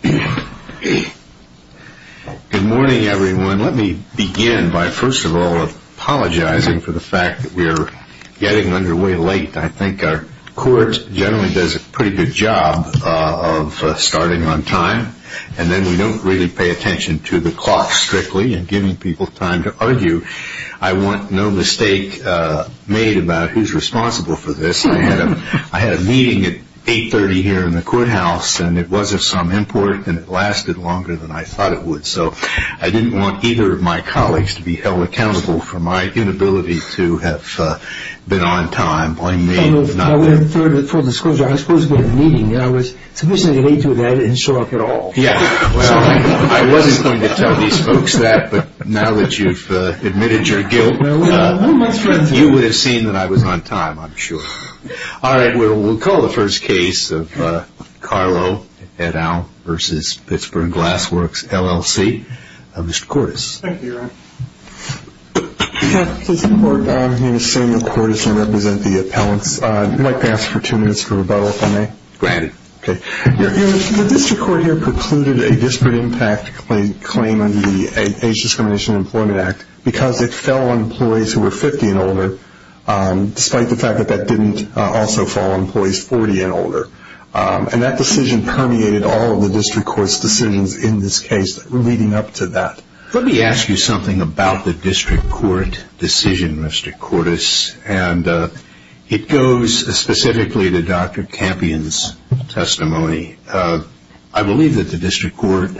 Good morning everyone. Let me begin by first of all apologizing for the fact that we are getting underway late. I think our court generally does a pretty good job of starting on time and then we don't really pay attention to the clock strictly and giving people time to argue. I want no mistake made about who is responsible for this. I had a meeting at 8.30 here in the courthouse and it was of some import and it lasted longer than I thought it would. So I didn't want either of my colleagues to be held accountable for my inability to have been on time. Blame me if not you. I would have preferred a full disclosure. I was supposed to be in a meeting and I was sufficiently late to that and didn't show up at all. I wasn't going to tell these folks that, but now that you've admitted your guilt, you would have seen that I was on time, I'm sure. All right, we'll call the first case of Carlo et al. v. Pittsburgh Glass Works LLC. Mr. Cordes. Thank you, Your Honor. Mr. Court, my name is Samuel Cordes. I represent the appellants. I'd like to ask for two minutes for rebuttal if I may. Granted. The district court here precluded a disparate impact claim under the Age Discrimination and Employment Act because it fell on employees who were 50 and older, despite the fact that that didn't also fall on employees 40 and older. And that decision permeated all of the district court's decisions in this case leading up to that. Let me ask you something about the district court decision, Mr. Cordes. It goes specifically to Dr. Campion's testimony. I believe that the district court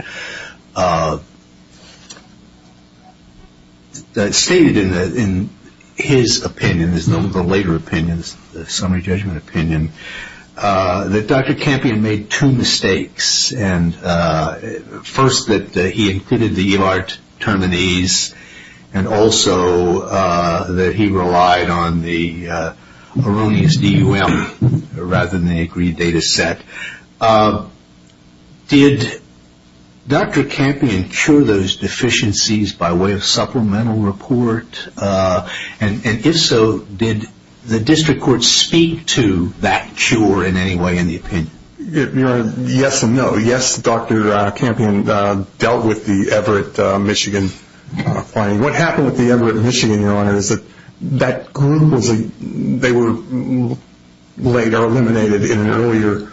stated in his opinion, his later opinion, the summary judgment opinion, that Dr. Campion made two mistakes. First, that he included the e-mart terminis and also that he relied on the erroneous DUM rather than the agreed data set. Did Dr. Campion cure those deficiencies by way of supplemental report? And if so, did the district court speak to that cure in any way in the opinion? Yes and no. Yes, Dr. Campion dealt with the Everett, Michigan finding. What happened with the Everett, Michigan, Your Honor, is that they were later eliminated in an earlier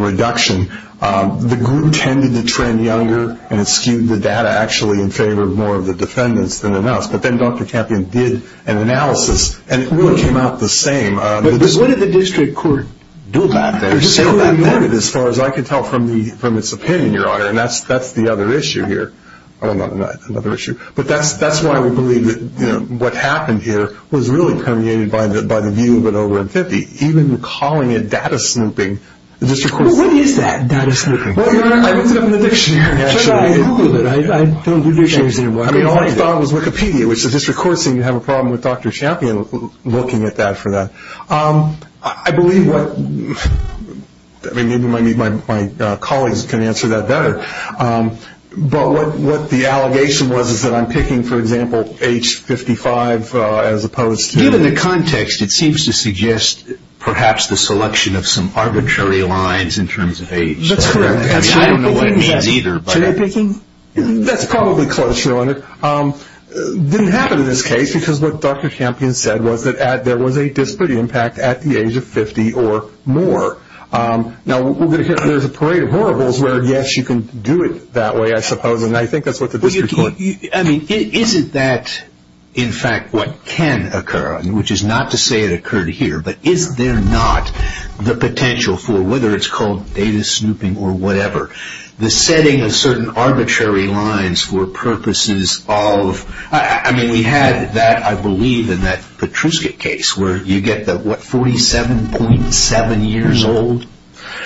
reduction. The group tended to trend younger and skewed the data actually in favor of more of the defendants than in us. But then Dr. Campion did an analysis, and it really came out the same. But what did the district court do about that or say about that? The district court ignored it as far as I could tell from its opinion, Your Honor. And that's the other issue here. Oh, no, not another issue. But that's why we believe that what happened here was really permeated by the view of it over in 50. Even calling it data snooping, the district court said. Well, what is that, data snooping? Well, Your Honor, I looked it up in the dictionary. I googled it. I don't do dictionaries anymore. I mean, all I thought was Wikipedia. You have a problem with Dr. Campion looking at that for that. I believe what my colleagues can answer that better. But what the allegation was is that I'm picking, for example, age 55 as opposed to. Given the context, it seems to suggest perhaps the selection of some arbitrary lines in terms of age. That's correct. I don't know what it means either. That's probably close, Your Honor. It didn't happen in this case because what Dr. Campion said was that there was a disciplinary impact at the age of 50 or more. Now, there's a parade of horribles where, yes, you can do it that way, I suppose, and I think that's what the district court. I mean, isn't that, in fact, what can occur, which is not to say it occurred here, but is there not the potential for, whether it's called data snooping or whatever, the setting of certain arbitrary lines for purposes of, I mean, we had that, I believe, in that Petruska case, where you get the, what, 47.7 years old?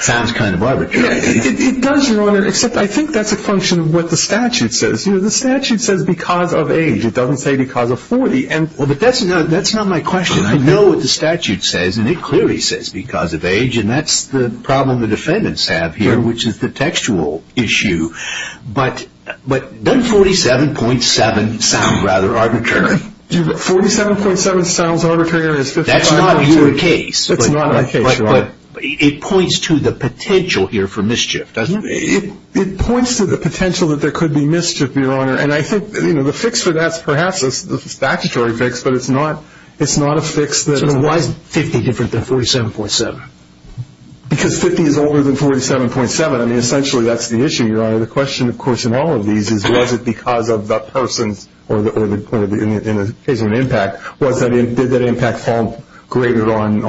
Sounds kind of arbitrary. It does, Your Honor, except I think that's a function of what the statute says. You know, the statute says because of age. It doesn't say because of 40. Well, but that's not my question. I know what the statute says, and it clearly says because of age, and that's the problem the defendants have here, which is the textual issue. But doesn't 47.7 sound rather arbitrary? 47.7 sounds arbitrary. That's not your case. It's not my case, Your Honor. But it points to the potential here for mischief, doesn't it? It points to the potential that there could be mischief, Your Honor, and I think, you know, the fix for that is perhaps the statutory fix, but it's not a fix. So then why is 50 different than 47.7? Because 50 is older than 47.7. I mean, essentially that's the issue, Your Honor. The question, of course, in all of these is was it because of the person's, or in the case of an impact, did that impact fall greater on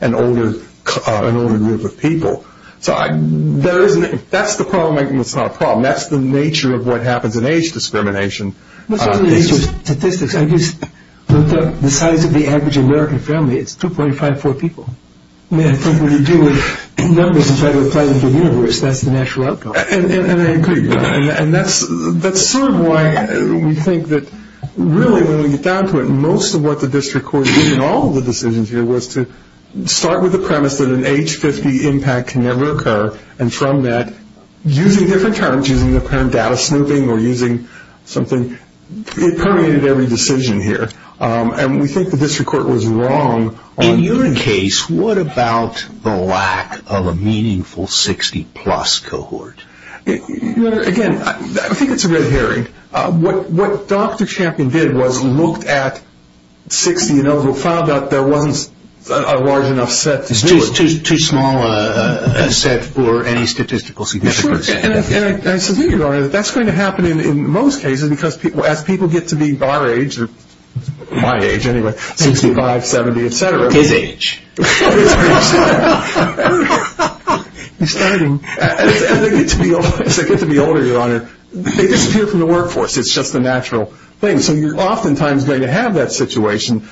an older group of people? So that's the problem. It's not a problem. That's the nature of what happens in age discrimination. The size of the average American family, it's 2.54 people. I mean, I think when you deal with numbers inside of a planetary universe, that's the natural outcome. And I agree. And that's sort of why we think that really when we get down to it, most of what the district court did in all of the decisions here was to start with the premise that an age 50 impact can never occur, and from that, using different terms, using the term data snooping or using something, it permeated every decision here. And we think the district court was wrong. In your case, what about the lack of a meaningful 60-plus cohort? Your Honor, again, I think it's a red herring. What Dr. Champion did was looked at 60 and over, found out there wasn't a large enough set to do it. It was too small a set for any statistical significance. And I suspect, Your Honor, that that's going to happen in most cases, because as people get to be our age, or my age anyway, 65, 70, et cetera. His age. His age. As they get to be older, Your Honor, they disappear from the workforce. It's just a natural thing. So you're oftentimes going to have that situation.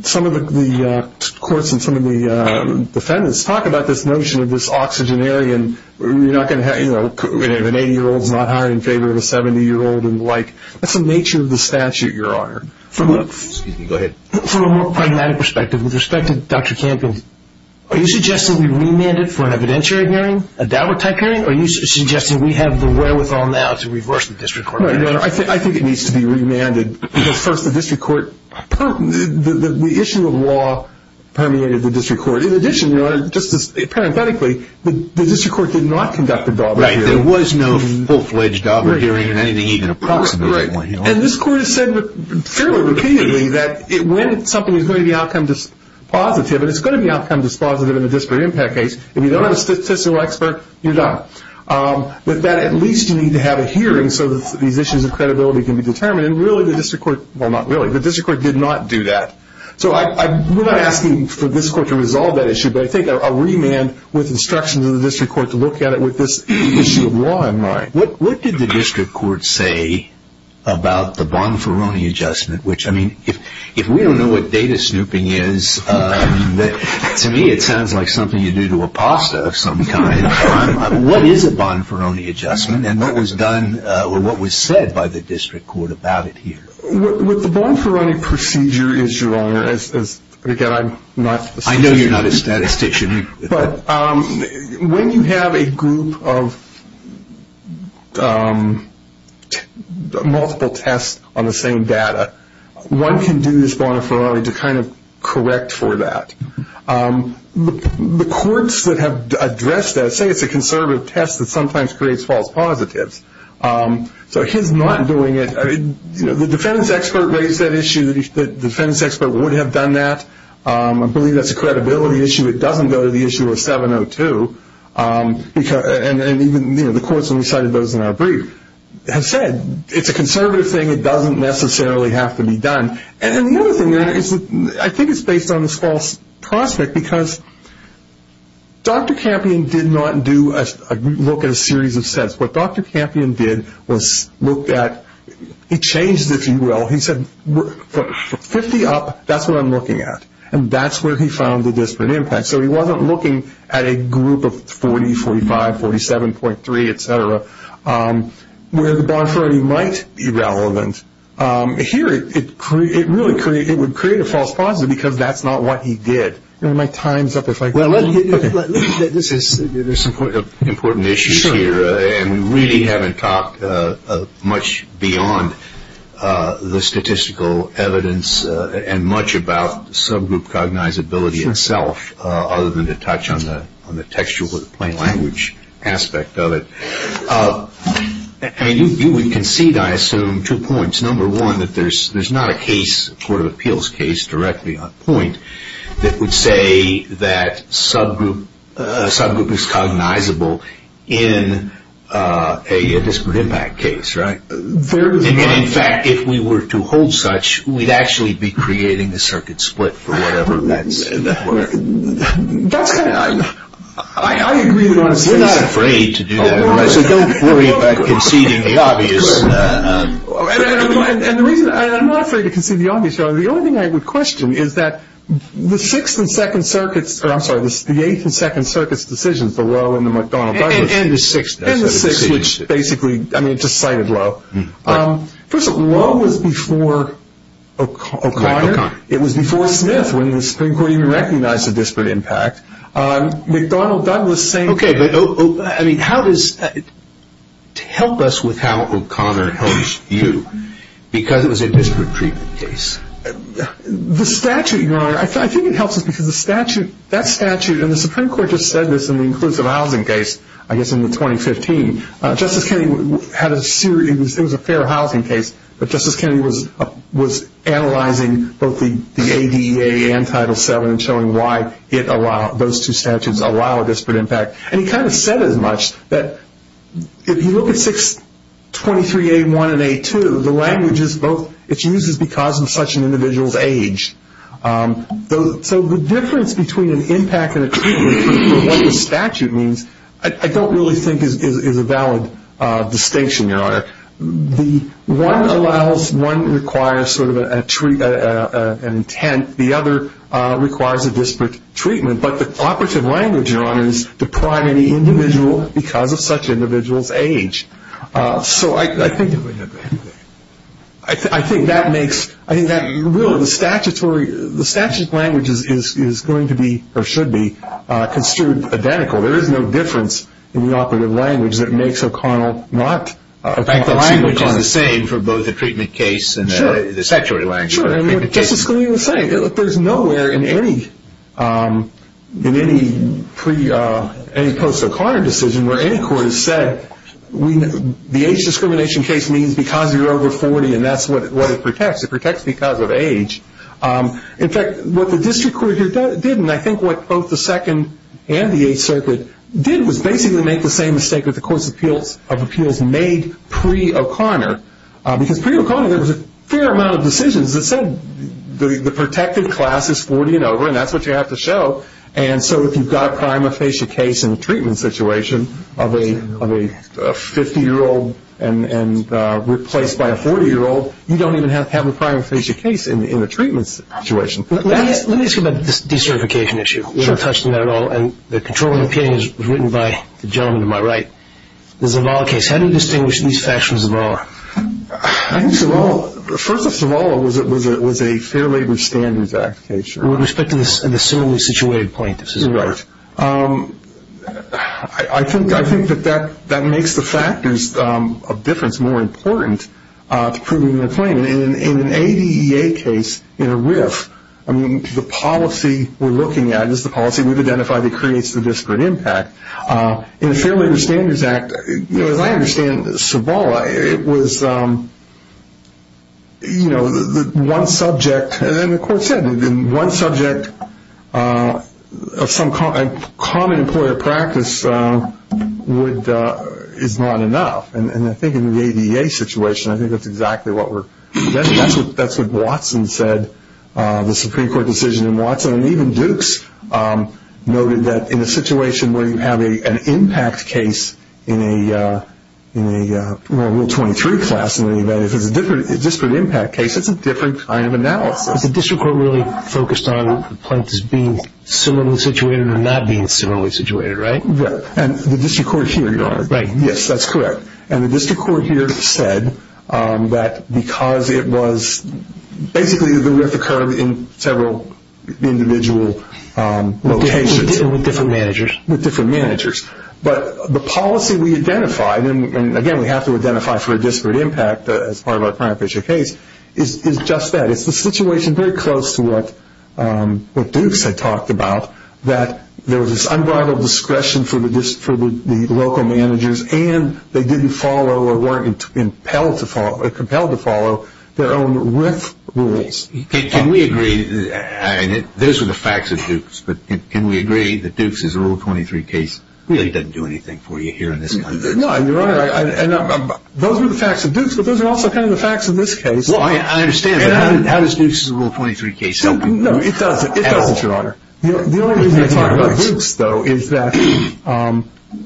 Some of the courts and some of the defendants talk about this notion of this oxygenarian. You're not going to have an 80-year-old not hiring in favor of a 70-year-old and the like. That's the nature of the statute, Your Honor. Excuse me. Go ahead. From a more pragmatic perspective, with respect to Dr. Champion, are you suggesting we remand it for an evidentiary hearing, a Dowertype hearing, or are you suggesting we have the wherewithal now to reverse the district court? No, Your Honor. I think it needs to be remanded because, first, the district court, the issue of law permeated the district court. In addition, Your Honor, just parenthetically, the district court did not conduct a Dowbert hearing. Right. There was no full-fledged Dowbert hearing in anything even approximately. Right. And this court has said fairly repeatedly that when something is going to be outcome-positive, and it's going to be outcome-dispositive in a disparate impact case, if you don't have a statistical expert, you're done. But that at least you need to have a hearing so that these issues of credibility can be determined. And really the district court, well, not really, the district court did not do that. So we're not asking for this court to resolve that issue, but I think a remand with instructions of the district court to look at it with this issue of law in mind. What did the district court say about the Bonferroni adjustment? Which, I mean, if we don't know what data snooping is, to me it sounds like something you do to a pasta of some kind. What is a Bonferroni adjustment? And what was done or what was said by the district court about it here? What the Bonferroni procedure is, Your Honor, again, I'm not a statistician. I know you're not a statistician. But when you have a group of multiple tests on the same data, one can do this Bonferroni to kind of correct for that. The courts that have addressed that say it's a conservative test that sometimes creates false positives. So his not doing it, you know, the defense expert raised that issue, the defense expert would have done that. I believe that's a credibility issue. It doesn't go to the issue of 702. And even, you know, the courts when we cited those in our brief have said it's a conservative thing. It doesn't necessarily have to be done. And the other thing is I think it's based on this false prospect because Dr. Campion did not do a look at a series of sets. What Dr. Campion did was look at, he changed it, if you will. He said 50 up, that's what I'm looking at. And that's where he found the disparate impact. So he wasn't looking at a group of 40, 45, 47.3, et cetera, where the Bonferroni might be relevant. Here it really would create a false positive because that's not what he did. My time's up if I go on. There's some important issues here. And we really haven't talked much beyond the statistical evidence and much about subgroup cognizability itself other than to touch on the textual plain language aspect of it. I mean, you would concede, I assume, two points. Number one, that there's not a case, a court of appeals case directly on point, that would say that subgroup is cognizable in a disparate impact case, right? In fact, if we were to hold such, we'd actually be creating the circuit split for whatever that's worth. That's kind of, I agree with what he's saying. We're not afraid to do that. So don't worry about conceding the obvious. And the reason I'm not afraid to concede the obvious, the only thing I would question is that the Sixth and Second Circuits, or I'm sorry, the Eighth and Second Circuits decisions, the Lowe and the McDonald-Douglas. And the Sixth. And the Sixth, which basically, I mean, just cited Lowe. First of all, Lowe was before O'Connor. It was before Smith when the Supreme Court even recognized a disparate impact. McDonald-Douglas saying. Okay, but I mean, how does, help us with how O'Connor helps you, because it was a disparate treatment case. The statute, Your Honor, I think it helps us because the statute, that statute, and the Supreme Court just said this in the inclusive housing case, I guess in the 2015. Justice Kennedy had a series, it was a fair housing case, but Justice Kennedy was analyzing both the ADA and Title VII and showing why it allowed, those two statutes allow a disparate impact. And he kind of said as much that if you look at 623A1 and A2, the language is both, it's used because of such an individual's age. So the difference between an impact and a treatment for what the statute means, one allows, one requires sort of an intent, the other requires a disparate treatment. But the operative language, Your Honor, is to prime any individual because of such an individual's age. So I think that makes, I think that really the statutory, the statute language is going to be or should be construed identical. There is no difference in the operative language that makes O'Connell not. In fact, the language is the same for both the treatment case and the statutory language. Sure, and Justice Kennedy was saying there's nowhere in any post-O'Connor decision where any court has said the age discrimination case means because you're over 40 and that's what it protects. It protects because of age. In fact, what the district court did, and I think what both the Second and the Eighth Circuit did, was basically make the same mistake that the Courts of Appeals made pre-O'Connor. Because pre-O'Connor there was a fair amount of decisions that said the protected class is 40 and over and that's what you have to show. And so if you've got a prima facie case in a treatment situation of a 50-year-old and replaced by a 40-year-old, you don't even have to have a prima facie case in a treatment situation. Let me ask you about this decertification issue. We haven't touched on that at all. And the controlling opinion was written by the gentleman to my right. The Zavala case, how do you distinguish these facts from Zavala? I think Zavala, first of all, was a Fair Labor Standards Act case. With respect to the similarly situated plaintiffs, is that right? I think that that makes the factors of difference more important to proving the claim. In an ADEA case, in a RIF, the policy we're looking at is the policy we've identified that creates the disparate impact. In a Fair Labor Standards Act, as I understand Zavala, it was one subject, and then the court said in one subject of some common employer practice is not enough. And I think in the ADEA situation, I think that's exactly what we're, that's what Watson said, the Supreme Court decision in Watson. And even Dukes noted that in a situation where you have an impact case in a Rule 23 class, if it's a disparate impact case, it's a different kind of analysis. Is the district court really focused on the plaintiffs being similarly situated or not being similarly situated, right? And the district court here, yes, that's correct. And the district court here said that because it was, basically the RIF occurred in several individual locations. With different managers. With different managers. But the policy we identified, and, again, we have to identify for a disparate impact as part of our primary picture case, is just that. It's the situation very close to what Dukes had talked about, that there was this unbridled discretion for the local managers, and they didn't follow or weren't compelled to follow their own RIF rules. But can we agree that Dukes' Rule 23 case really doesn't do anything for you here in this country? No, Your Honor. Those are the facts of Dukes, but those are also kind of the facts of this case. Well, I understand, but how does Dukes' Rule 23 case help you? No, it doesn't. It doesn't, Your Honor. The only reason we're talking about Dukes, though, is that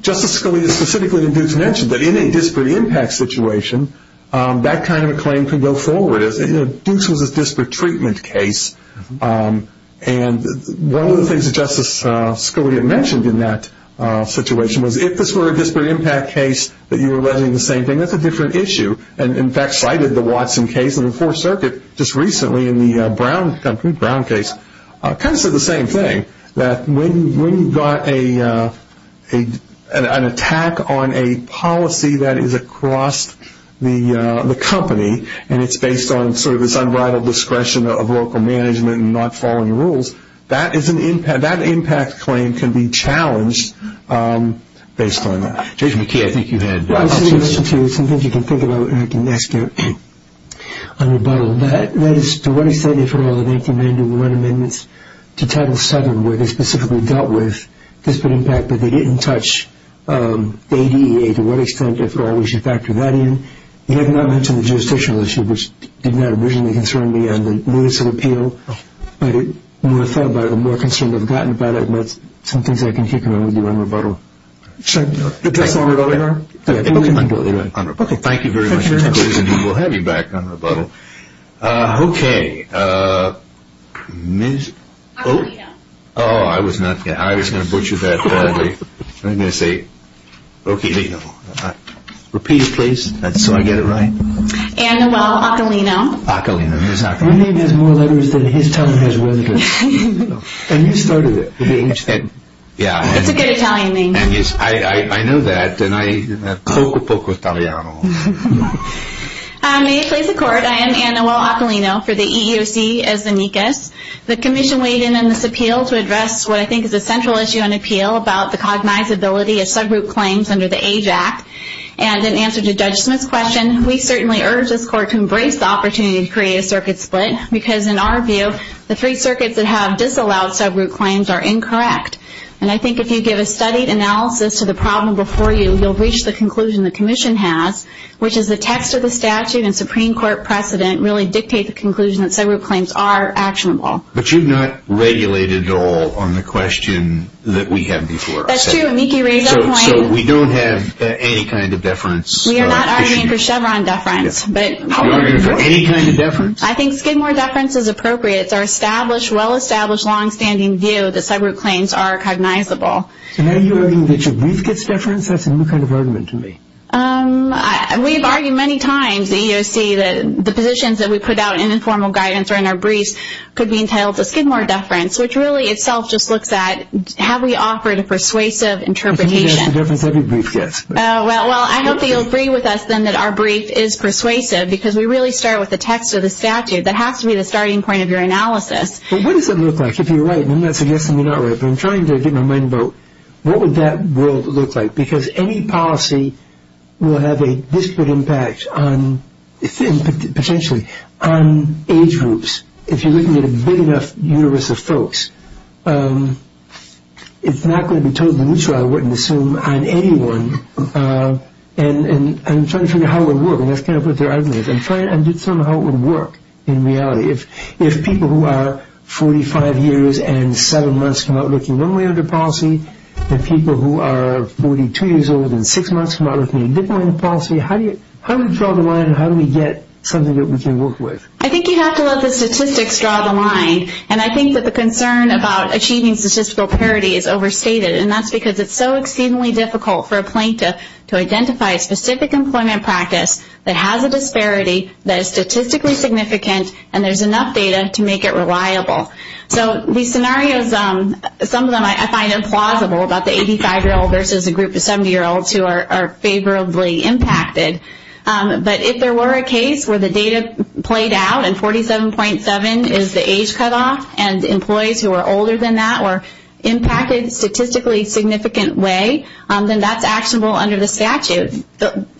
Justice Scalia specifically in Dukes mentioned that in a disparate impact situation, that kind of a claim could go forward. Dukes was a disparate treatment case. And one of the things that Justice Scalia mentioned in that situation was, if this were a disparate impact case that you were alleging the same thing, that's a different issue, and in fact cited the Watson case in the Fourth Circuit just recently in the Brown case, kind of said the same thing, that when you've got an attack on a policy that is across the company, and it's based on sort of this unbridled discretion of local management and not following the rules, that impact claim can be challenged based on that. Judge McKee, I think you had options. Well, I'll say this to you. Some things you can think about, and I can ask you on rebuttal. That is, to what extent, if at all, did they demand to run amendments to Title VII where they specifically dealt with disparate impact, but they didn't touch the ADA? To what extent, if at all, we should factor that in? You have not mentioned the jurisdictional issue, which did not originally concern me on the minutes of appeal, but the more I've thought about it, the more concerned I've gotten about it, and that's some things I can kick around with you on rebuttal. Should I address that on rebuttal, Your Honor? On rebuttal. Okay. Thank you very much for your time. We'll have you back on rebuttal. Okay. I was going to butcher that badly. I was going to say, okay, repeat it, please, so I get it right. Anuel Acalino. Acalino. His name has more letters than his tongue has letters. And you started it. It's a good Italian name. I know that. Poco poco italiano. May it please the Court, I am Anuel Acalino for the EEOC as the NECAS. The commission weighed in on this appeal to address what I think is a central issue in appeal about the cognizability of subroute claims under the AJAC. And in answer to Judge Smith's question, we certainly urge this Court to embrace the opportunity to create a circuit split, because in our view, the three circuits that have disallowed subroute claims are incorrect. And I think if you give a studied analysis to the problem before you, you'll reach the conclusion the commission has, which is the text of the statute and Supreme Court precedent really dictate the conclusion that subroute claims are actionable. But you've not regulated at all on the question that we have before us. That's true. Miki, raise your point. So we don't have any kind of deference. We are not arguing for Chevron deference. Any kind of deference? I think Skidmore deference is appropriate. It's our established, well-established, long-standing view that subroute claims are cognizable. So now you're arguing that your brief gets deference? That's a new kind of argument to me. We've argued many times at EEOC that the positions that we put out in informal guidance or in our briefs could be entitled to Skidmore deference, which really itself just looks at have we offered a persuasive interpretation. I think that's the deference every brief gets. Well, I hope that you'll agree with us then that our brief is persuasive because we really start with the text of the statute. That has to be the starting point of your analysis. But what does it look like if you're right? I'm not suggesting you're not right, but I'm trying to get my mind about what would that world look like? Because any policy will have a disparate impact, potentially, on age groups. If you're looking at a big enough universe of folks, it's not going to be totally neutral, I wouldn't assume, on anyone. And I'm trying to figure out how it would work, and that's kind of what they're arguing. I'm trying to figure out how it would work in reality. If people who are 45 years and seven months come out looking one way under policy, and people who are 42 years old and six months come out looking a different way under policy, how do we draw the line and how do we get something that we can work with? I think you have to let the statistics draw the line, and I think that the concern about achieving statistical parity is overstated, and that's because it's so exceedingly difficult for a plaintiff to identify a specific employment practice that has a disparity, that is statistically significant, and there's enough data to make it reliable. So these scenarios, some of them I find implausible, about the 85-year-old versus a group of 70-year-olds who are favorably impacted. But if there were a case where the data played out and 47.7 is the age cutoff, and employees who are older than that were impacted statistically significant way, then that's actionable under the statute.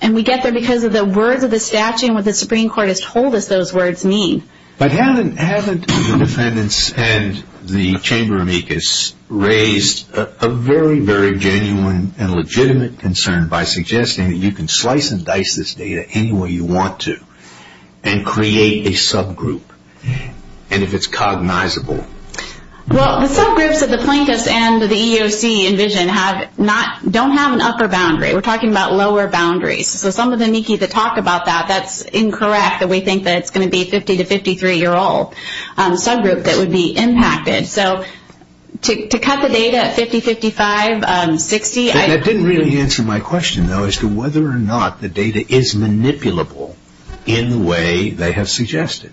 And we get there because of the words of the statute and what the Supreme Court has told us those words mean. But haven't the defendants and the chamber amicus raised a very, very genuine and legitimate concern by suggesting that you can slice and dice this data any way you want to and create a subgroup? And if it's cognizable. Well, the subgroups that the plaintiffs and the EEOC envision don't have an upper boundary. We're talking about lower boundaries. So some of the amici that talk about that, that's incorrect that we think that it's going to be a 50- to 53-year-old subgroup that would be impacted. So to cut the data at 50, 55, 60. That didn't really answer my question, though, as to whether or not the data is manipulable in the way they have suggested.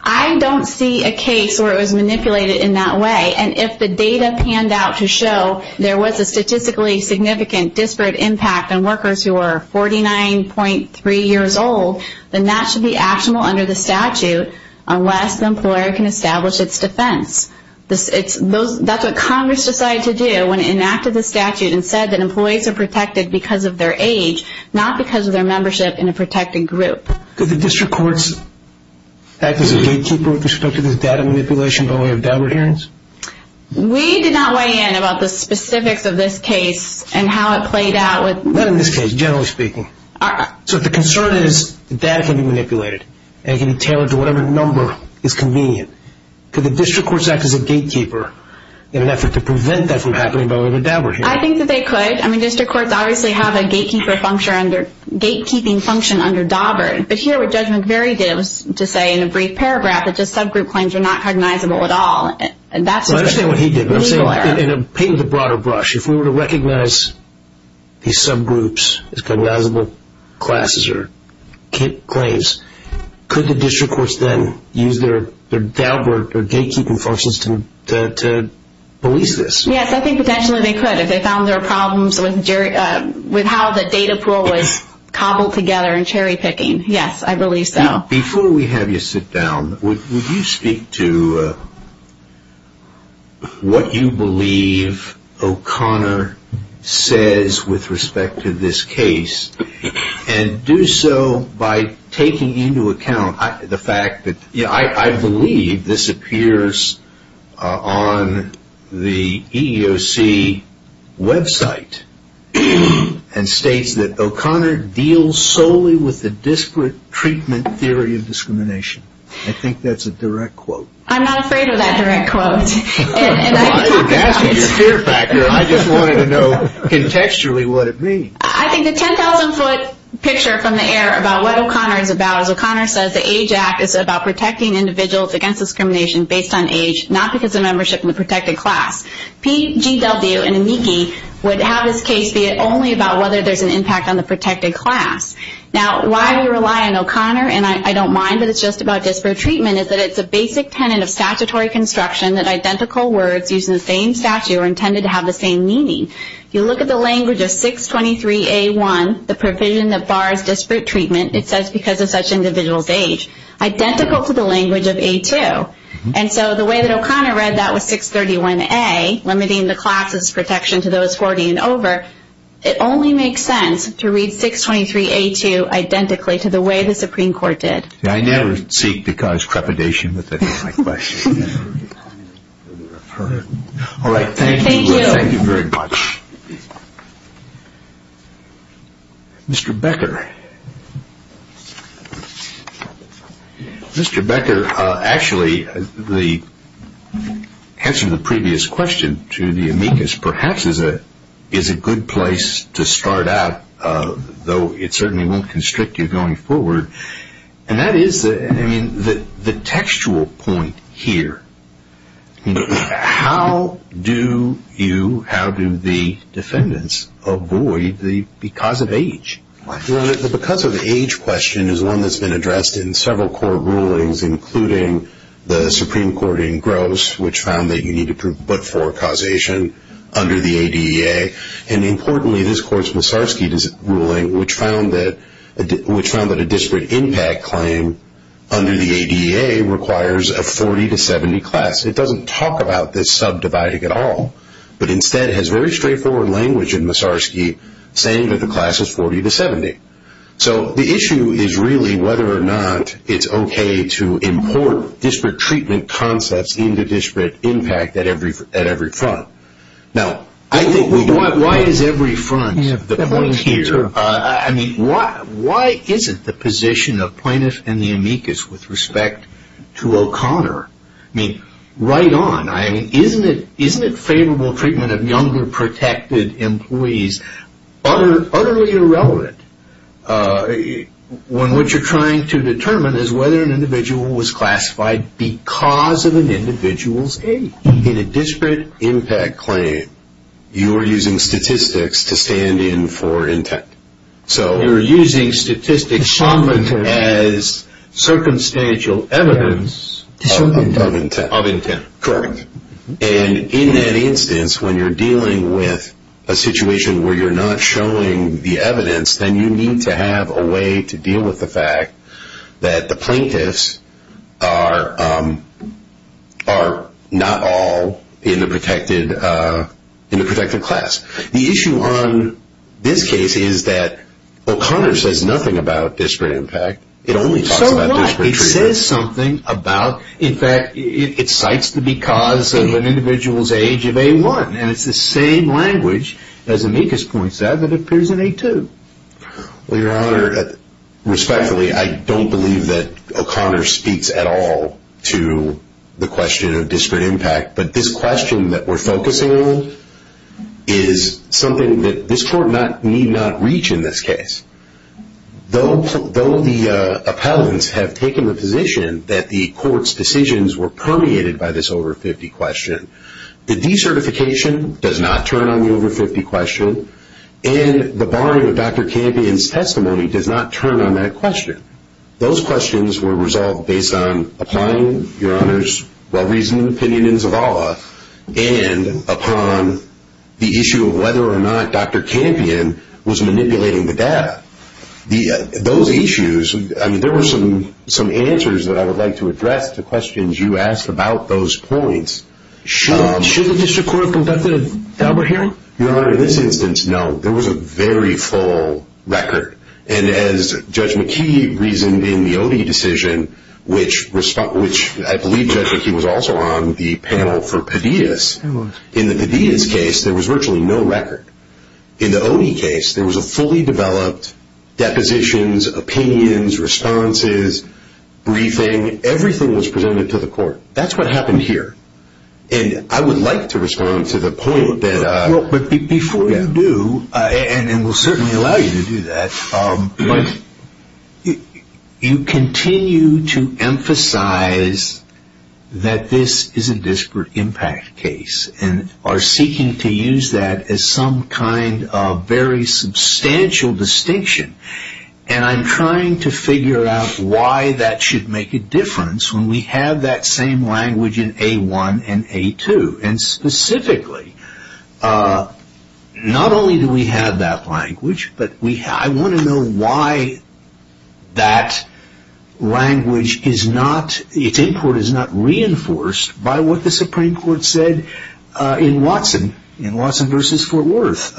I don't see a case where it was manipulated in that way. And if the data panned out to show there was a statistically significant disparate impact on workers who are 49.3 years old, then that should be actionable under the statute unless the employer can establish its defense. That's what Congress decided to do when it enacted the statute and said that employees are protected because of their age, not because of their membership in a protected group. Did the district courts act as a gatekeeper with respect to this data manipulation by way of downward hearings? We did not weigh in about the specifics of this case and how it played out. Not in this case, generally speaking. So if the concern is that data can be manipulated and can be tailored to whatever number is convenient, could the district courts act as a gatekeeper in an effort to prevent that from happening by way of a downward hearing? I think that they could. I mean, district courts obviously have a gatekeeping function under Daubert. But here what Judge McVeary did was to say in a brief paragraph that just subgroup claims are not cognizable at all. Well, I understand what he did. But I'm saying, in a painting with a broader brush, if we were to recognize these subgroups as cognizable classes or claims, could the district courts then use their Daubert or gatekeeping functions to police this? Yes, I think potentially they could if they found there were problems with how the data pool was cobbled together and cherry-picking. Yes, I believe so. Before we have you sit down, would you speak to what you believe O'Connor says with respect to this case? And do so by taking into account the fact that I believe this appears on the EEOC website and states that O'Connor deals solely with the disparate treatment theory of discrimination. I think that's a direct quote. I'm not afraid of that direct quote. I didn't ask for your fear factor. I just wanted to know contextually what it means. I think the 10,000-foot picture from the air about what O'Connor is about is O'Connor says the AGE Act is about protecting individuals against discrimination based on age, not because of membership in a protected class. PGW and AMICI would have this case be only about whether there's an impact on the protected class. Now, why we rely on O'Connor, and I don't mind that it's just about disparate treatment, is that it's a basic tenet of statutory construction that identical words used in the same statute are intended to have the same meaning. If you look at the language of 623A1, the provision that bars disparate treatment, it says because of such individual's age, identical to the language of A2. And so the way that O'Connor read that was 631A, limiting the class's protection to those 40 and over. It only makes sense to read 623A2 identically to the way the Supreme Court did. I never seek to cause trepidation with any of my questions. All right, thank you. Thank you. Thank you very much. Mr. Becker. Mr. Becker, actually, the answer to the previous question to the amicus perhaps is a good place to start out, though it certainly won't constrict you going forward. And that is, I mean, the textual point here, how do you, how do the defendants avoid the because of age? The because of age question is one that's been addressed in several court rulings, including the Supreme Court in Gross, which found that you need to prove but for causation under the ADEA. And importantly, this Court's Musarski ruling, which found that a disparate impact claim under the ADEA requires a 40 to 70 class. It doesn't talk about this subdividing at all, but instead has very straightforward language in Musarski saying that the class is 40 to 70. So the issue is really whether or not it's okay to import disparate treatment concepts into disparate impact at every front. Now, I think we do. Why is every front the point here? I mean, why isn't the position of plaintiffs and the amicus with respect to O'Connor, I mean, right on. I mean, isn't it favorable treatment of younger protected employees utterly irrelevant when what you're trying to determine is whether an individual was classified because of an individual's age. In a disparate impact claim, you are using statistics to stand in for intent. You're using statistics as circumstantial evidence of intent. Correct. And in that instance, when you're dealing with a situation where you're not showing the evidence, then you need to have a way to deal with the fact that the plaintiffs are not all in the protected class. The issue on this case is that O'Connor says nothing about disparate impact. It only talks about disparate treatment. So what? It says something about, in fact, it cites the because of an individual's age of A1, and it's the same language, as amicus points out, that appears in A2. Well, Your Honor, respectfully, I don't believe that O'Connor speaks at all to the question of disparate impact, but this question that we're focusing on is something that this Court need not reach in this case. Though the appellants have taken the position that the Court's decisions were permeated by this over-50 question, the decertification does not turn on the over-50 question, and the barring of Dr. Campion's testimony does not turn on that question. Those questions were resolved based on applying Your Honor's well-reasoned opinion in Zavala and upon the issue of whether or not Dr. Campion was manipulating the data. Those issues, I mean, there were some answers that I would like to address to questions you asked about those points. Should the district court have conducted a Daubert hearing? Your Honor, in this instance, no. There was a very full record. And as Judge McKee reasoned in the Odie decision, which I believe Judge McKee was also on the panel for Padillas, in the Padillas case, there was virtually no record. In the Odie case, there was a fully developed depositions, opinions, responses, briefing. Everything was presented to the Court. That's what happened here. And I would like to respond to the point that… Before you do, and we'll certainly allow you to do that, you continue to emphasize that this is a disparate impact case and are seeking to use that as some kind of very substantial distinction. And I'm trying to figure out why that should make a difference when we have that same language in A1 and A2. And specifically, not only do we have that language, but I want to know why that language is not reinforced by what the Supreme Court said in Watson versus Fort Worth.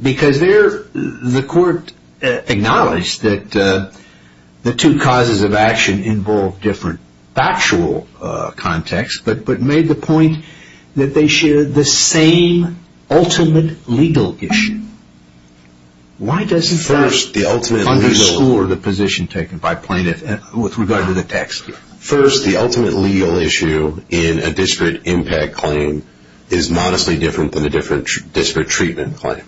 Because there, the Court acknowledged that the two causes of action involve different factual context, but made the point that they share the same ultimate legal issue. Why doesn't that underscore the position taken by plaintiff with regard to the text? First, the ultimate legal issue in a disparate impact claim is modestly different than a disparate treatment claim.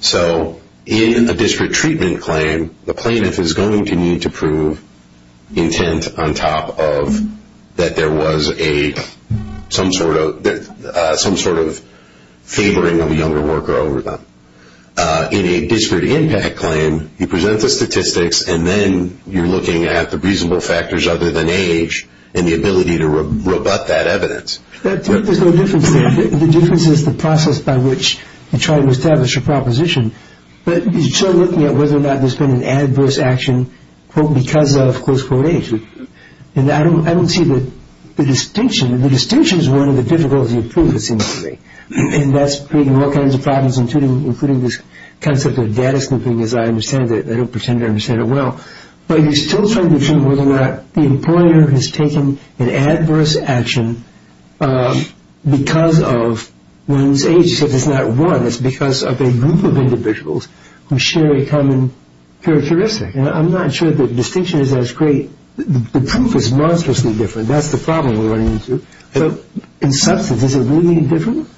So in a disparate treatment claim, the plaintiff is going to need to prove intent on top of that there was some sort of favoring of a younger worker over them. In a disparate impact claim, you present the statistics, and then you're looking at the reasonable factors other than age and the ability to rebut that evidence. There's no difference there. The difference is the process by which you try to establish a proposition. But you're still looking at whether or not there's been an adverse action, quote, because of, close quote, age. And I don't see the distinction. The distinction is one of the difficulties of proof, it seems to me. And that's creating all kinds of problems, including this concept of data snooping, as I understand it. I don't pretend to understand it well. But you're still trying to determine whether or not the employer has taken an adverse action because of one's age. You said it's not one. It's because of a group of individuals who share a common characteristic. And I'm not sure the distinction is as great. The proof is monstrously different. That's the problem we're running into. So in substance, is it really any different?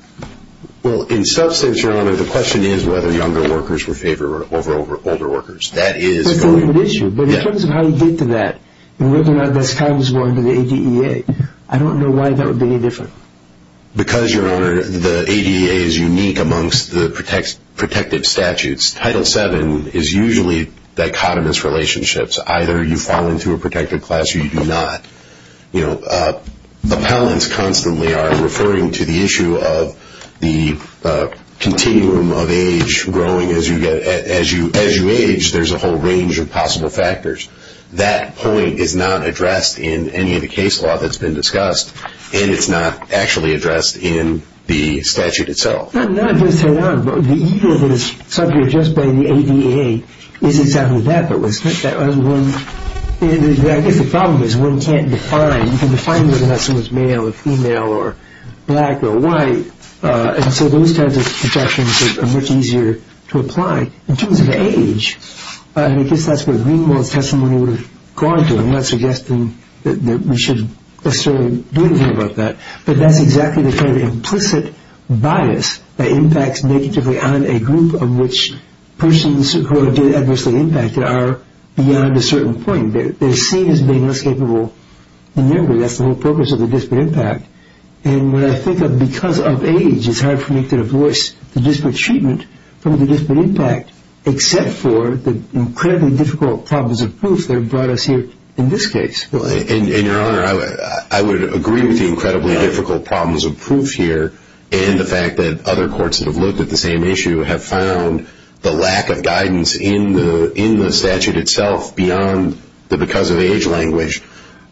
Well, in substance, Your Honor, the question is whether younger workers were favored over older workers. That is going to be an issue. But in terms of how you get to that and whether or not that's common to the ADEA, I don't know why that would be any different. Because, Your Honor, the ADEA is unique amongst the protective statutes. Title VII is usually dichotomous relationships. Either you fall into a protected class or you do not. You know, appellants constantly are referring to the issue of the continuum of age growing as you age. There's a whole range of possible factors. That point is not addressed in any of the case law that's been discussed, and it's not actually addressed in the statute itself. No, I'm just saying, Your Honor, the ego that is subject to the ADEA is exactly that. I guess the problem is one can't define. You can define whether someone's male or female or black or white. And so those types of projections are much easier to apply. In terms of age, I guess that's where Greenwald's testimony would have gone to. I'm not suggesting that we should necessarily do anything about that. But that's exactly the kind of implicit bias that impacts negatively on a group of which persons who are adversely impacted are beyond a certain point. They're seen as being less capable than younger. That's the whole purpose of the disparate impact. And when I think of because of age, it's hard for me to divorce the disparate treatment from the disparate impact except for the incredibly difficult problems of proof that have brought us here in this case. And, Your Honor, I would agree with the incredibly difficult problems of proof here and the fact that other courts that have looked at the same issue have found the lack of guidance in the statute itself beyond the because of age language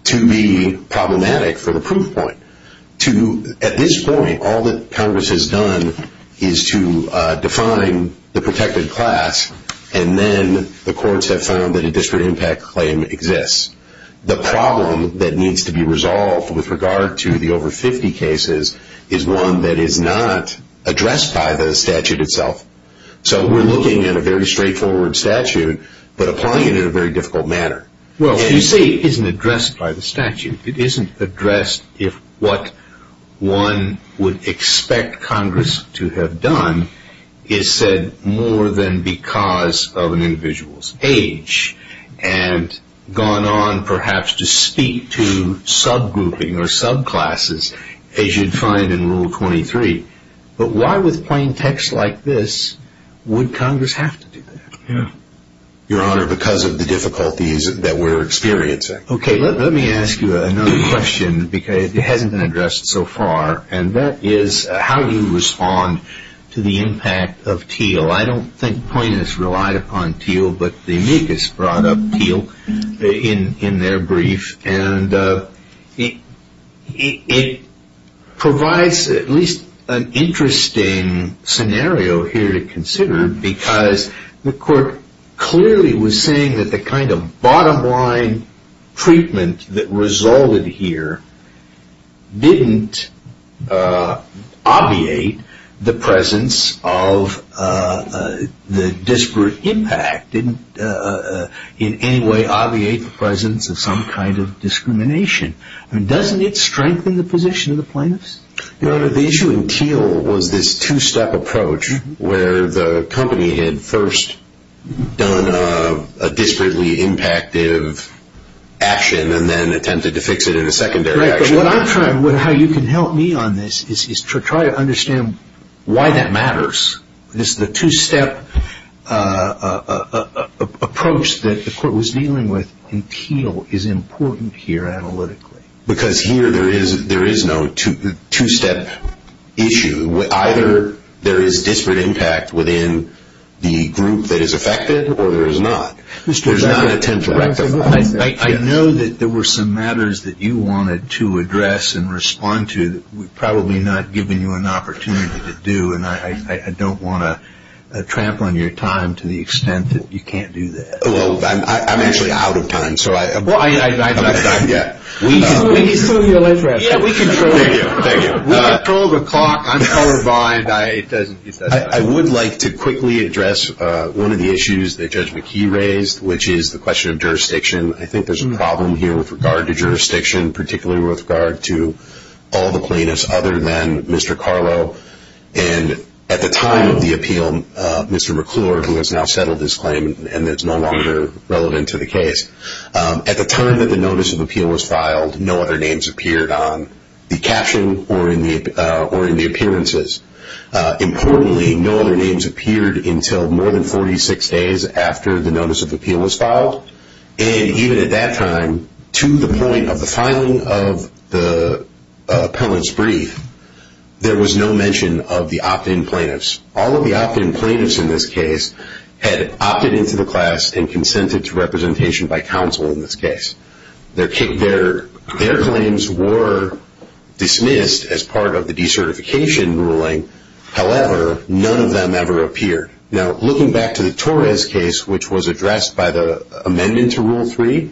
to be problematic for the proof point. At this point, all that Congress has done is to define the protected class and then the courts have found that a disparate impact claim exists. The problem that needs to be resolved with regard to the over 50 cases is one that is not addressed by the statute itself. So we're looking at a very straightforward statute but applying it in a very difficult manner. Well, you say it isn't addressed by the statute. It isn't addressed if what one would expect Congress to have done is said more than because of an individual's age and gone on perhaps to speak to subgrouping or subclasses as you'd find in Rule 23. But why with plain text like this would Congress have to do that? Your Honor, because of the difficulties that we're experiencing. Okay, let me ask you another question because it hasn't been addressed so far and that is how do you respond to the impact of Teal? I don't think Point has relied upon Teal but the amicus brought up Teal in their brief and it provides at least an interesting scenario here to consider because the court clearly was saying that the kind of bottom line treatment that resulted here didn't obviate the presence of the disparate impact, didn't in any way obviate the presence of some kind of discrimination. Doesn't it strengthen the position of the plaintiffs? Your Honor, the issue in Teal was this two-step approach where the company had first done a disparately impactive action and then attempted to fix it in a secondary action. Right, but what I'm trying, how you can help me on this is to try to understand why that matters. This is the two-step approach that the court was dealing with in Teal is important here analytically. Because here there is no two-step issue. Either there is disparate impact within the group that is affected or there is not. There's not a template. I know that there were some matters that you wanted to address and respond to that we've probably not given you an opportunity to do and I don't want to trample on your time to the extent that you can't do that. Well, I'm actually out of time. He's still in your life raft. We control the clock. I'm colorblind. I would like to quickly address one of the issues that Judge McKee raised, which is the question of jurisdiction. I think there's a problem here with regard to jurisdiction, particularly with regard to all the plaintiffs other than Mr. Carlo. And at the time of the appeal, Mr. McClure, who has now settled his claim and is no longer relevant to the case, at the time that the notice of appeal was filed, no other names appeared on the caption or in the appearances. Importantly, no other names appeared until more than 46 days after the notice of appeal was filed. And even at that time, to the point of the filing of the appellant's brief, there was no mention of the opt-in plaintiffs. All of the opt-in plaintiffs in this case had opted into the class and consented to representation by counsel in this case. Their claims were dismissed as part of the decertification ruling. However, none of them ever appeared. Now, looking back to the Torres case, which was addressed by the amendment to Rule 3,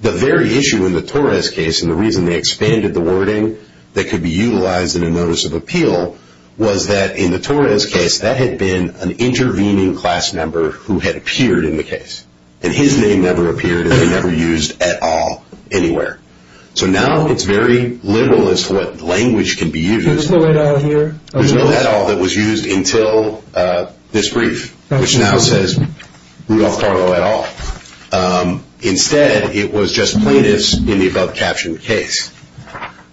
the very issue in the Torres case, and the reason they expanded the wording that could be utilized in a notice of appeal, was that in the Torres case that had been an intervening class member who had appeared in the case, and his name never appeared and was never used at all anywhere. So now it's very liberal as to what language can be used. There's no at all here? There's no at all that was used until this brief, which now says, Rudolph Carlo et al. Instead, it was just plaintiffs in the above-captioned case.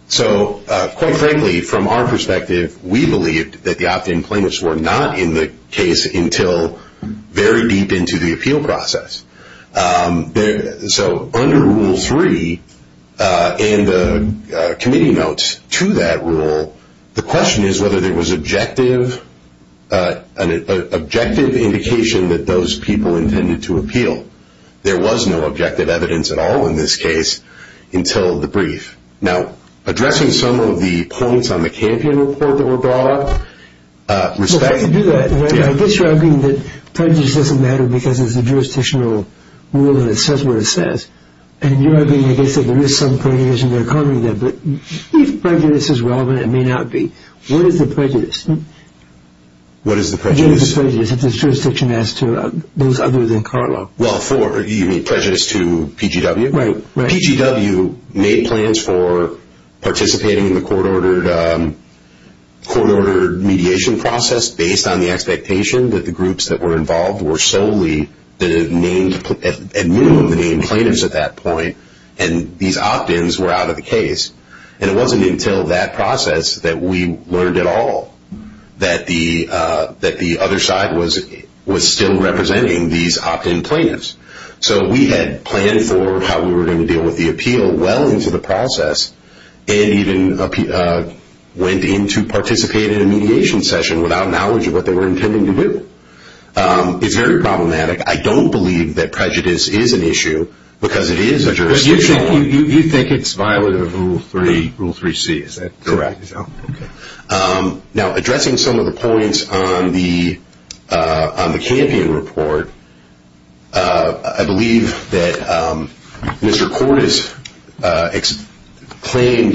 So quite frankly, from our perspective, we believed that the opt-in plaintiffs were not in the case until very deep into the appeal process. So under Rule 3, and the committee notes to that rule, the question is whether there was an objective indication that those people intended to appeal. There was no objective evidence at all in this case until the brief. Now, addressing some of the points on the Campion report that were brought up. Well, how do you do that? I guess you're arguing that prejudice doesn't matter because it's a jurisdictional rule and it says what it says. And you're arguing, I guess, that there is some prejudice in the economy there. But if prejudice is relevant, it may not be. What is the prejudice? What is the prejudice? What is the prejudice if this jurisdiction is to those other than Carlo? Well, you mean prejudice to PGW? Right. PGW made plans for participating in the court-ordered mediation process based on the expectation that the groups that were involved were solely at minimum the named plaintiffs at that point, and these opt-ins were out of the case. And it wasn't until that process that we learned at all that the other side was still representing these opt-in plaintiffs. So we had planned for how we were going to deal with the appeal well into the process and even went in to participate in a mediation session without knowledge of what they were intending to do. It's very problematic. I don't believe that prejudice is an issue because it is a jurisdictional one. But you think it's violent of Rule 3C, is that correct? Correct. Now, addressing some of the points on the Campion report, I believe that Mr. Cordes claimed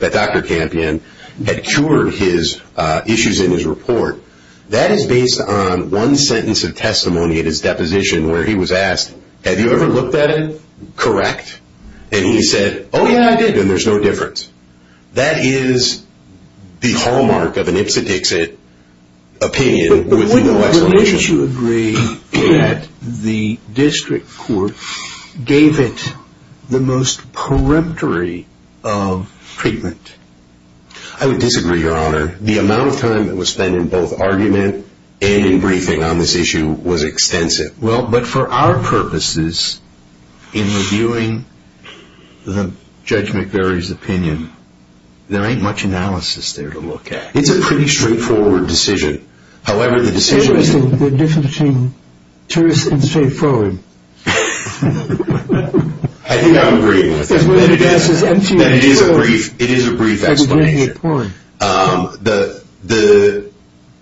that Dr. Campion had cured his issues in his report. That is based on one sentence of testimony at his deposition where he was asked, have you ever looked at it? Correct. And he said, oh, yeah, I did, and there's no difference. That is the hallmark of an Ipsit-Dixit opinion with no explanation. But wouldn't you agree that the district court gave it the most peremptory of treatment? I would disagree, Your Honor. The amount of time that was spent in both argument and in briefing on this issue was extensive. Well, but for our purposes, in reviewing Judge McVeary's opinion, there ain't much analysis there to look at. It's a pretty straightforward decision. However, the decision- There's a difference between truth and straightforward. I think I'm agreeing with that. It is a brief explanation. The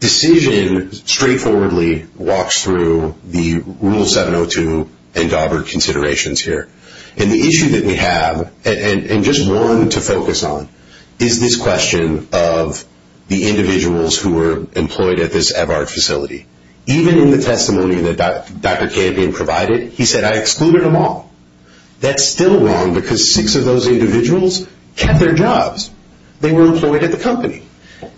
decision straightforwardly walks through the Rule 702 and Daubert considerations here. And the issue that we have, and just one to focus on, is this question of the individuals who were employed at this EVARD facility. Even in the testimony that Dr. Campion provided, he said, I excluded them all. That's still wrong because six of those individuals kept their jobs. They were employed at the company.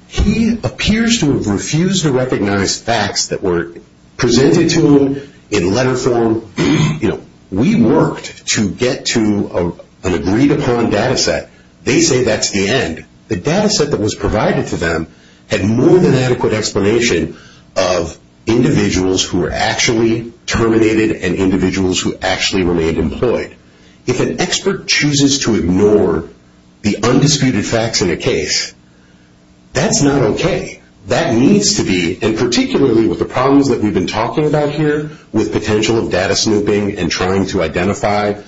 He appears to have refused to recognize facts that were presented to him in letter form. You know, we worked to get to an agreed-upon data set. They say that's the end. The data set that was provided to them had more than adequate explanation of individuals who were actually terminated and individuals who actually remained employed. If an expert chooses to ignore the undisputed facts in a case, that's not okay. That needs to be, and particularly with the problems that we've been talking about here with potential of data snooping and trying to identify,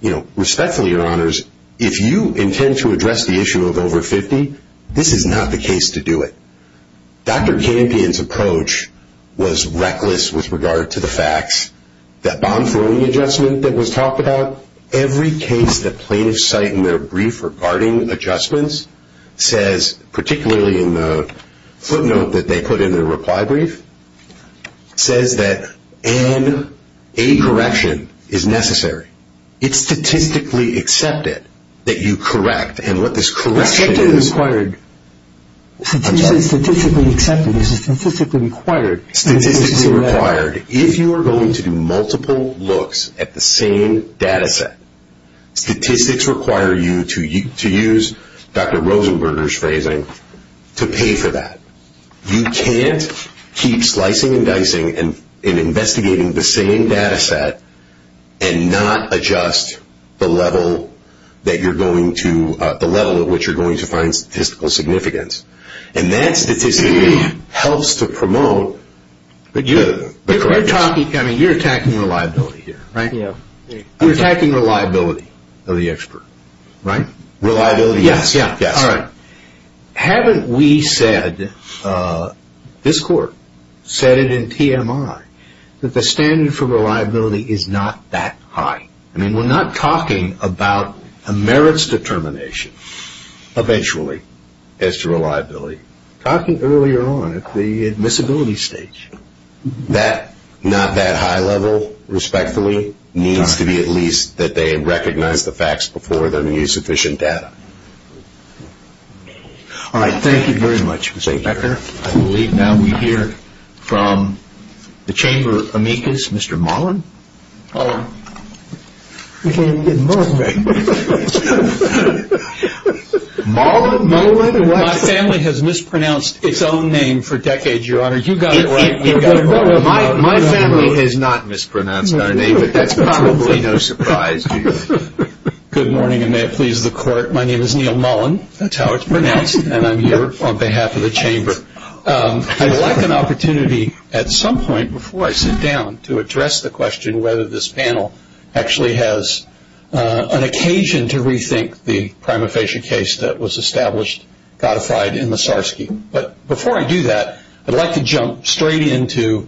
you know, respectfully, Your Honors, if you intend to address the issue of over 50, this is not the case to do it. Dr. Campion's approach was reckless with regard to the facts. That bomb-throwing adjustment that was talked about, every case that plaintiffs cite in their brief regarding adjustments says, particularly in the footnote that they put in their reply brief, says that an A correction is necessary. It's statistically accepted that you correct, and what this correction is. Statistically required. Statistically accepted is statistically required. Statistically required. If you are going to do multiple looks at the same data set, statistics require you, to use Dr. Rosenberger's phrasing, to pay for that. You can't keep slicing and dicing and investigating the same data set and not adjust the level that you're going to, the level at which you're going to find statistical significance. And that statistically helps to promote the correctness. You're attacking reliability here, right? Yeah. You're attacking reliability of the expert, right? Reliability, yes. Yeah. All right. Haven't we said, this Court said it in TMI, that the standard for reliability is not that high? I mean, we're not talking about a merits determination, eventually, as to reliability. We're talking earlier on at the admissibility stage. That not that high level, respectfully, needs to be at least that they recognize the facts before they're going to use sufficient data. All right. Thank you very much, Mr. Becker. I believe now we hear from the Chamber amicus, Mr. Mullen. Mullen. You can't even get Mullen right. Mullen? Mullen? My family has mispronounced its own name for decades, Your Honor. You got it right. My family has not mispronounced our name, but that's probably no surprise to you. Good morning, and may it please the Court. My name is Neil Mullen. That's how it's pronounced, and I'm here on behalf of the Chamber. I'd like an opportunity at some point, before I sit down, to address the question whether this panel actually has an occasion to rethink the prima facie case that was established, codified in the SARS-CoV-2. But before I do that, I'd like to jump straight into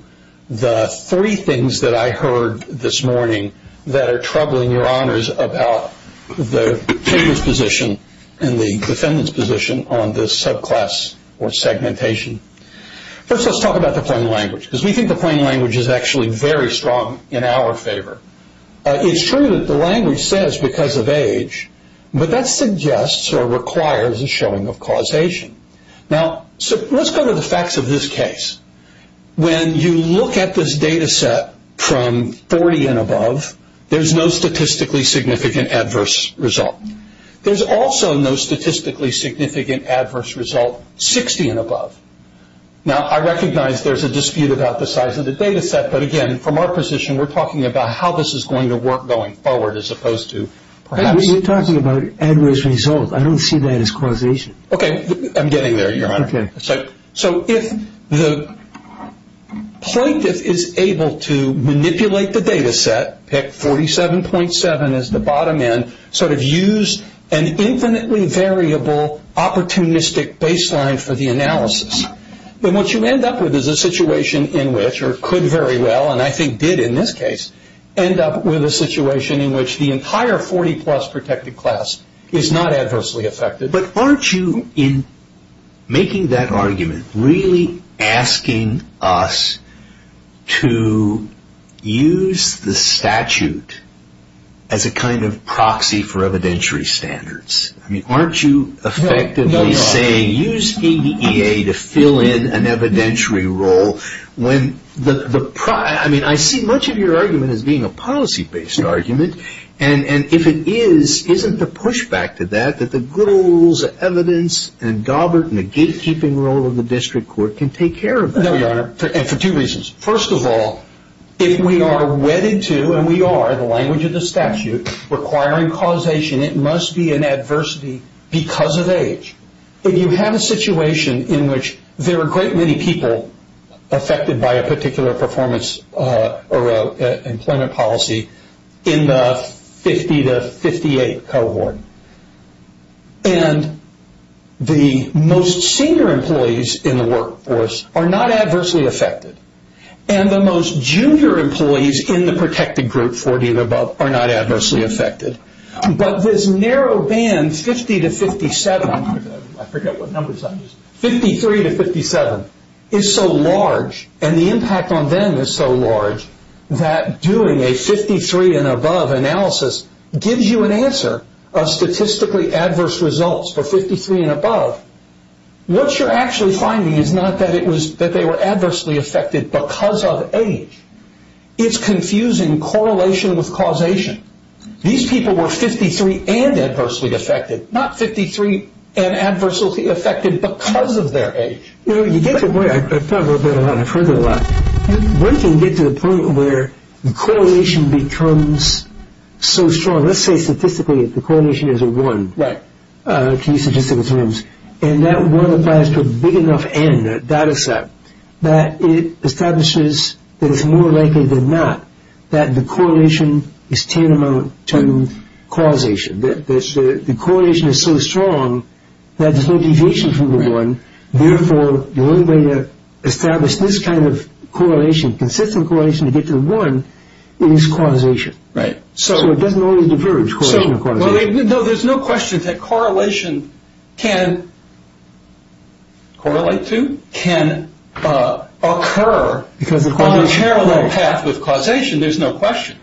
the three things that I heard this morning that are troubling Your Honors about the Chamber's position and the defendant's position on this subclass or segmentation. First, let's talk about the plain language, because we think the plain language is actually very strong in our favor. It's true that the language says because of age, but that suggests or requires a showing of causation. Now, let's go to the facts of this case. When you look at this data set from 40 and above, there's no statistically significant adverse result. There's also no statistically significant adverse result 60 and above. Now, I recognize there's a dispute about the size of the data set, but again, from our position, we're talking about how this is going to work going forward as opposed to perhaps. We're talking about adverse results. I don't see that as causation. Okay, I'm getting there, Your Honor. Okay. So if the plaintiff is able to manipulate the data set, pick 47.7 as the bottom end, sort of use an infinitely variable opportunistic baseline for the analysis, then what you end up with is a situation in which, or could very well, and I think did in this case, end up with a situation in which the entire 40-plus protected class is not adversely affected. But aren't you, in making that argument, really asking us to use the statute as a kind of proxy for evidentiary standards? I mean, aren't you effectively saying, use EBEA to fill in an evidentiary role? I mean, I see much of your argument as being a policy-based argument, and if it is, isn't the pushback to that that the good old rules of evidence and Gobert and the gatekeeping role of the district court can take care of that? No, Your Honor, and for two reasons. First of all, if we are wedded to, and we are in the language of the statute, requiring causation, it must be an adversity because of age. If you have a situation in which there are a great many people affected by a particular performance or employment policy in the 50-58 cohort, and the most senior employees in the workforce are not adversely affected, and the most junior employees in the protected group, 40 and above, are not adversely affected. But this narrow band, 50-57, I forget what numbers I used, 53-57, is so large, and the impact on them is so large that doing a 53 and above analysis gives you an answer of statistically adverse results for 53 and above. What you're actually finding is not that they were adversely affected because of age. It's confusing correlation with causation. These people were 53 and adversely affected, not 53 and adversely affected because of their age. You know, you get to a point, I've thought about that a lot, I've heard that a lot. One can get to the point where the correlation becomes so strong, let's say statistically the correlation is a one, to use statistical terms, and that one applies to a big enough N, a data set, that it establishes that it's more likely than not that the correlation is tantamount to causation. The correlation is so strong that there's no deviation from the one, and therefore the only way to establish this kind of correlation, consistent correlation, to get to the one is causation. So it doesn't always diverge, correlation or causation. No, there's no question that correlation can occur on a parallel path with causation. There's no question.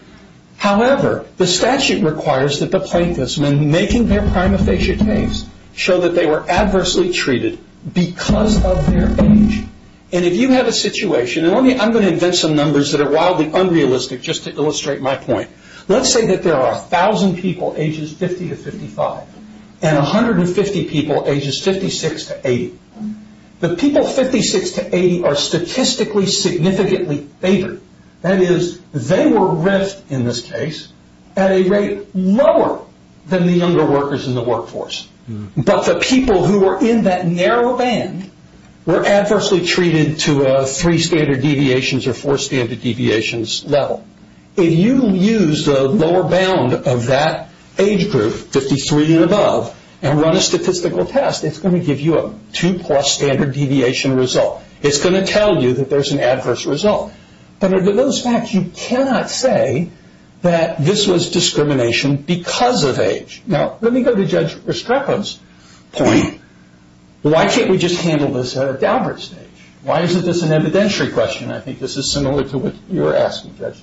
However, the statute requires that the plaintiffs, when making their prima facie case, show that they were adversely treated because of their age. And if you have a situation, and I'm going to invent some numbers that are wildly unrealistic, just to illustrate my point. Let's say that there are 1,000 people ages 50 to 55, and 150 people ages 56 to 80. The people 56 to 80 are statistically significantly older. That is, they were ripped, in this case, at a rate lower than the younger workers in the workforce. But the people who were in that narrow band were adversely treated to a three standard deviations or four standard deviations level. If you use the lower bound of that age group, 53 and above, and run a statistical test, it's going to give you a two plus standard deviation result. It's going to tell you that there's an adverse result. But under those facts, you cannot say that this was discrimination because of age. Now, let me go to Judge Restrepo's point. Why can't we just handle this at a Dalbert stage? Why isn't this an evidentiary question? I think this is similar to what you were asking, Judge.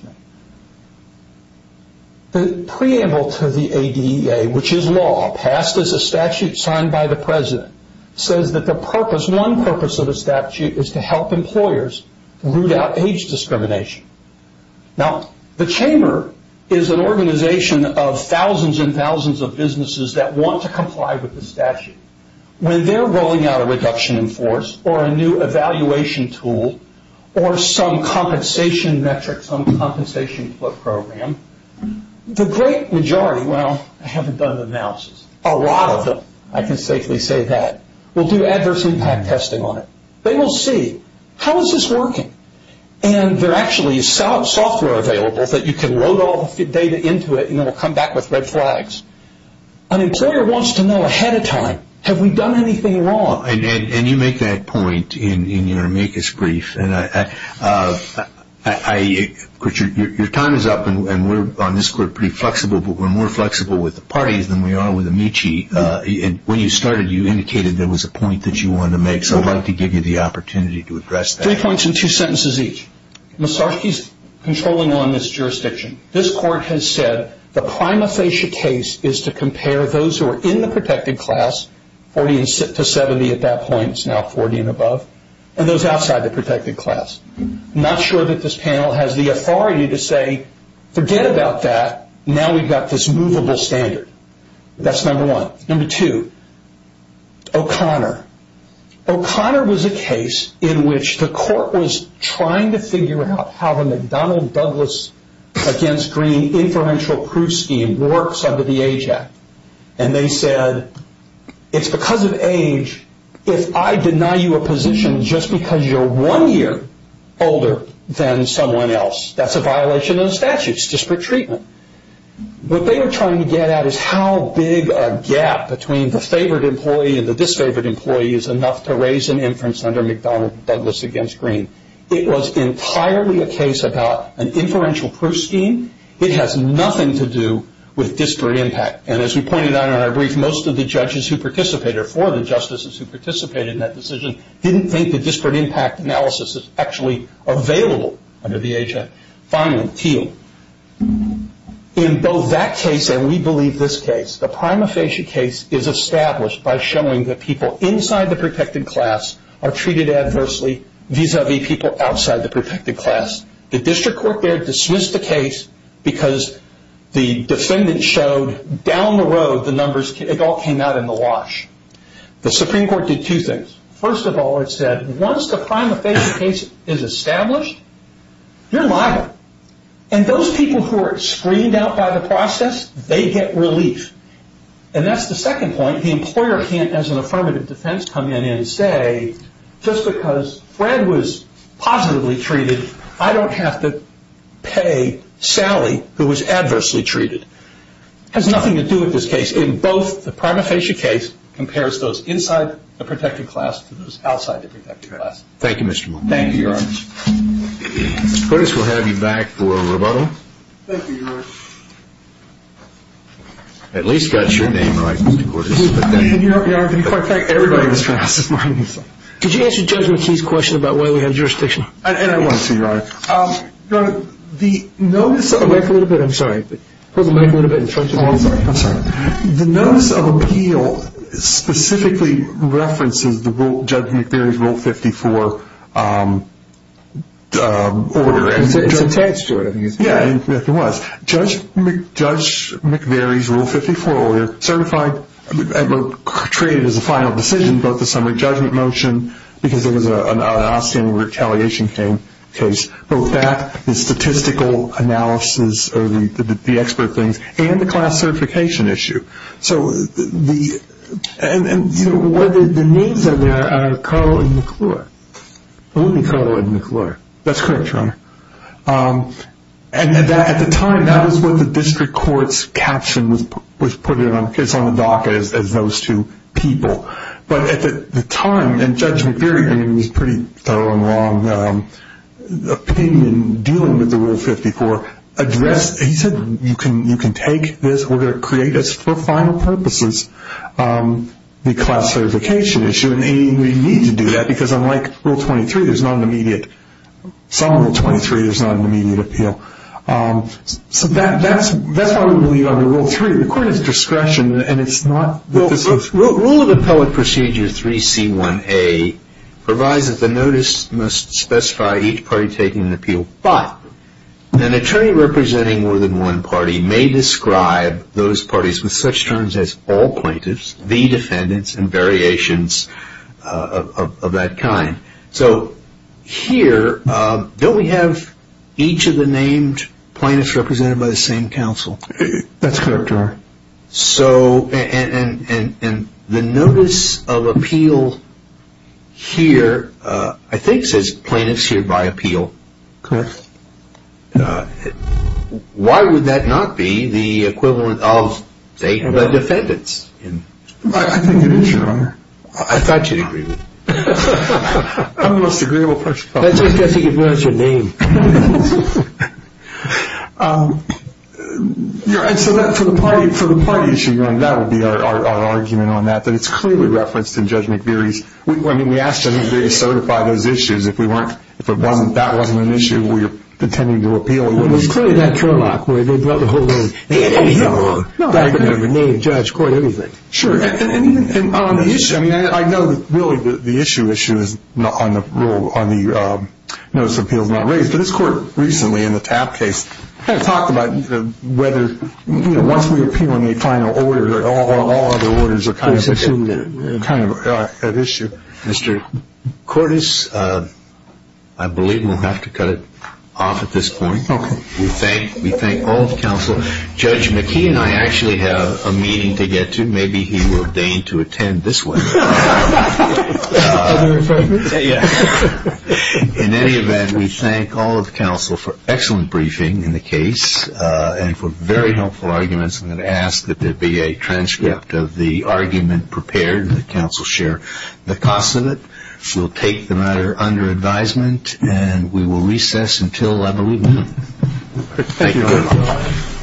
The preamble to the ADEA, which is law, passed as a statute signed by the president, says that the purpose, one purpose of the statute, is to help employers root out age discrimination. Now, the chamber is an organization of thousands and thousands of businesses that want to comply with the statute. When they're rolling out a reduction in force or a new evaluation tool or some compensation metric, some compensation program, the great majority, they say, well, I haven't done the analysis. A lot of them, I can safely say that, will do adverse impact testing on it. They will see, how is this working? And there actually is software available that you can load all the data into it and it will come back with red flags. An employer wants to know ahead of time, have we done anything wrong? And you make that point in your amicus brief. Your time is up, and we're, on this court, pretty flexible, but we're more flexible with the parties than we are with Amici. When you started, you indicated there was a point that you wanted to make, so I'd like to give you the opportunity to address that. Three points and two sentences each. Mussorgsky's controlling on this jurisdiction. This court has said the prima facie case is to compare those who are in the protected class, 40 to 70 at that point, it's now 40 and above, and those outside the protected class. I'm not sure that this panel has the authority to say, forget about that, now we've got this movable standard. That's number one. Number two, O'Connor. O'Connor was a case in which the court was trying to figure out how the McDonnell-Douglas against Greene inferential proof scheme works under the Age Act. They said, it's because of age, if I deny you a position just because you're one year older than someone else, that's a violation of the statutes, disparate treatment. What they were trying to get at is how big a gap between the favored employee and the disfavored employee is enough to raise an inference under McDonnell-Douglas against Greene. It was entirely a case about an inferential proof scheme. It has nothing to do with disparate impact, and as we pointed out in our brief, most of the judges who participated, or four of the justices who participated in that decision, didn't think the disparate impact analysis is actually available under the Age Act. Finally, Thiel. In both that case and we believe this case, the prima facie case is established by showing that people inside the protected class are treated adversely vis-a-vis people outside the protected class. The district court there dismissed the case because the defendant showed down the road the numbers, it all came out in the wash. The Supreme Court did two things. First of all, it said, once the prima facie case is established, you're liable. And those people who are screened out by the process, they get relief. And that's the second point. The employer can't, as an affirmative defense, come in and say, just because Fred was positively treated, I don't have to pay Sally, who was adversely treated. It has nothing to do with this case. In both, the prima facie case compares those inside the protected class to those outside the protected class. Thank you, Mr. Martin. Thank you, Your Honor. Cordes will have you back for a rebuttal. Thank you, Your Honor. At least got your name right, Mr. Cordes. In fact, everybody was pronounced as Martin. Could you answer Judge McKee's question about why we have jurisdiction? I want to, Your Honor. Your Honor, the notice of appeal specifically references Judge McVeary's Rule 54 order. It's attached to it, I think. Yes, it was. Judge McVeary's Rule 54 order, certified, created as a final decision, both the summary judgment motion, because it was an outstanding retaliation case, both that, the statistical analysis of the expert things, and the class certification issue. And the names that are there are Carle and McClure, only Carle and McClure. That's correct, Your Honor. And at the time, that was what the district court's caption was put in. It's on the docket as those two people. But at the time, and Judge McVeary was pretty thorough and long, the opinion dealing with the Rule 54 addressed, he said, you can take this order, create this for final purposes, the class certification issue. And we need to do that because unlike Rule 23, there's not an immediate, some Rule 23, there's not an immediate appeal. So that's why we believe under Rule 3, the court has discretion and it's not. Rule of Appellate Procedure 3C1A provides that the notice must specify each party taking an appeal, but an attorney representing more than one party may describe those parties with such terms as all plaintiffs, the defendants, and variations of that kind. So here, don't we have each of the named plaintiffs represented by the same counsel? That's correct, Your Honor. And the notice of appeal here I think says plaintiffs here by appeal. Correct. Why would that not be the equivalent of, say, the defendants? I think it is, Your Honor. I thought you'd agree with me. I'm the most agreeable person. That's because he can pronounce your name. And so for the party issue, Your Honor, that would be our argument on that, that it's clearly referenced in Judge McVeary's. I mean, we asked Judge McVeary to certify those issues. If that wasn't an issue we were intending to appeal, it wouldn't be. It was clearly that turlock where they brought the whole name. And he brought the whole name. Name, judge, court, everything. Sure. And on the issue, I mean, I know that really the issue is on the notice of appeals not raised. But this Court recently in the TAP case kind of talked about whether, you know, once we appeal on the final order, all other orders are kind of at issue. Mr. Cordes, I believe we'll have to cut it off at this point. Okay. We thank all of counsel. Judge McKee and I actually have a meeting to get to. Maybe he will deign to attend this one. Other appointments? Yeah. In any event, we thank all of counsel for excellent briefing in the case and for very helpful arguments. I'm going to ask that there be a transcript of the argument prepared and that counsel share the cost of it. We'll take the matter under advisement and we will recess until I believe noon. Thank you very much. Thank you.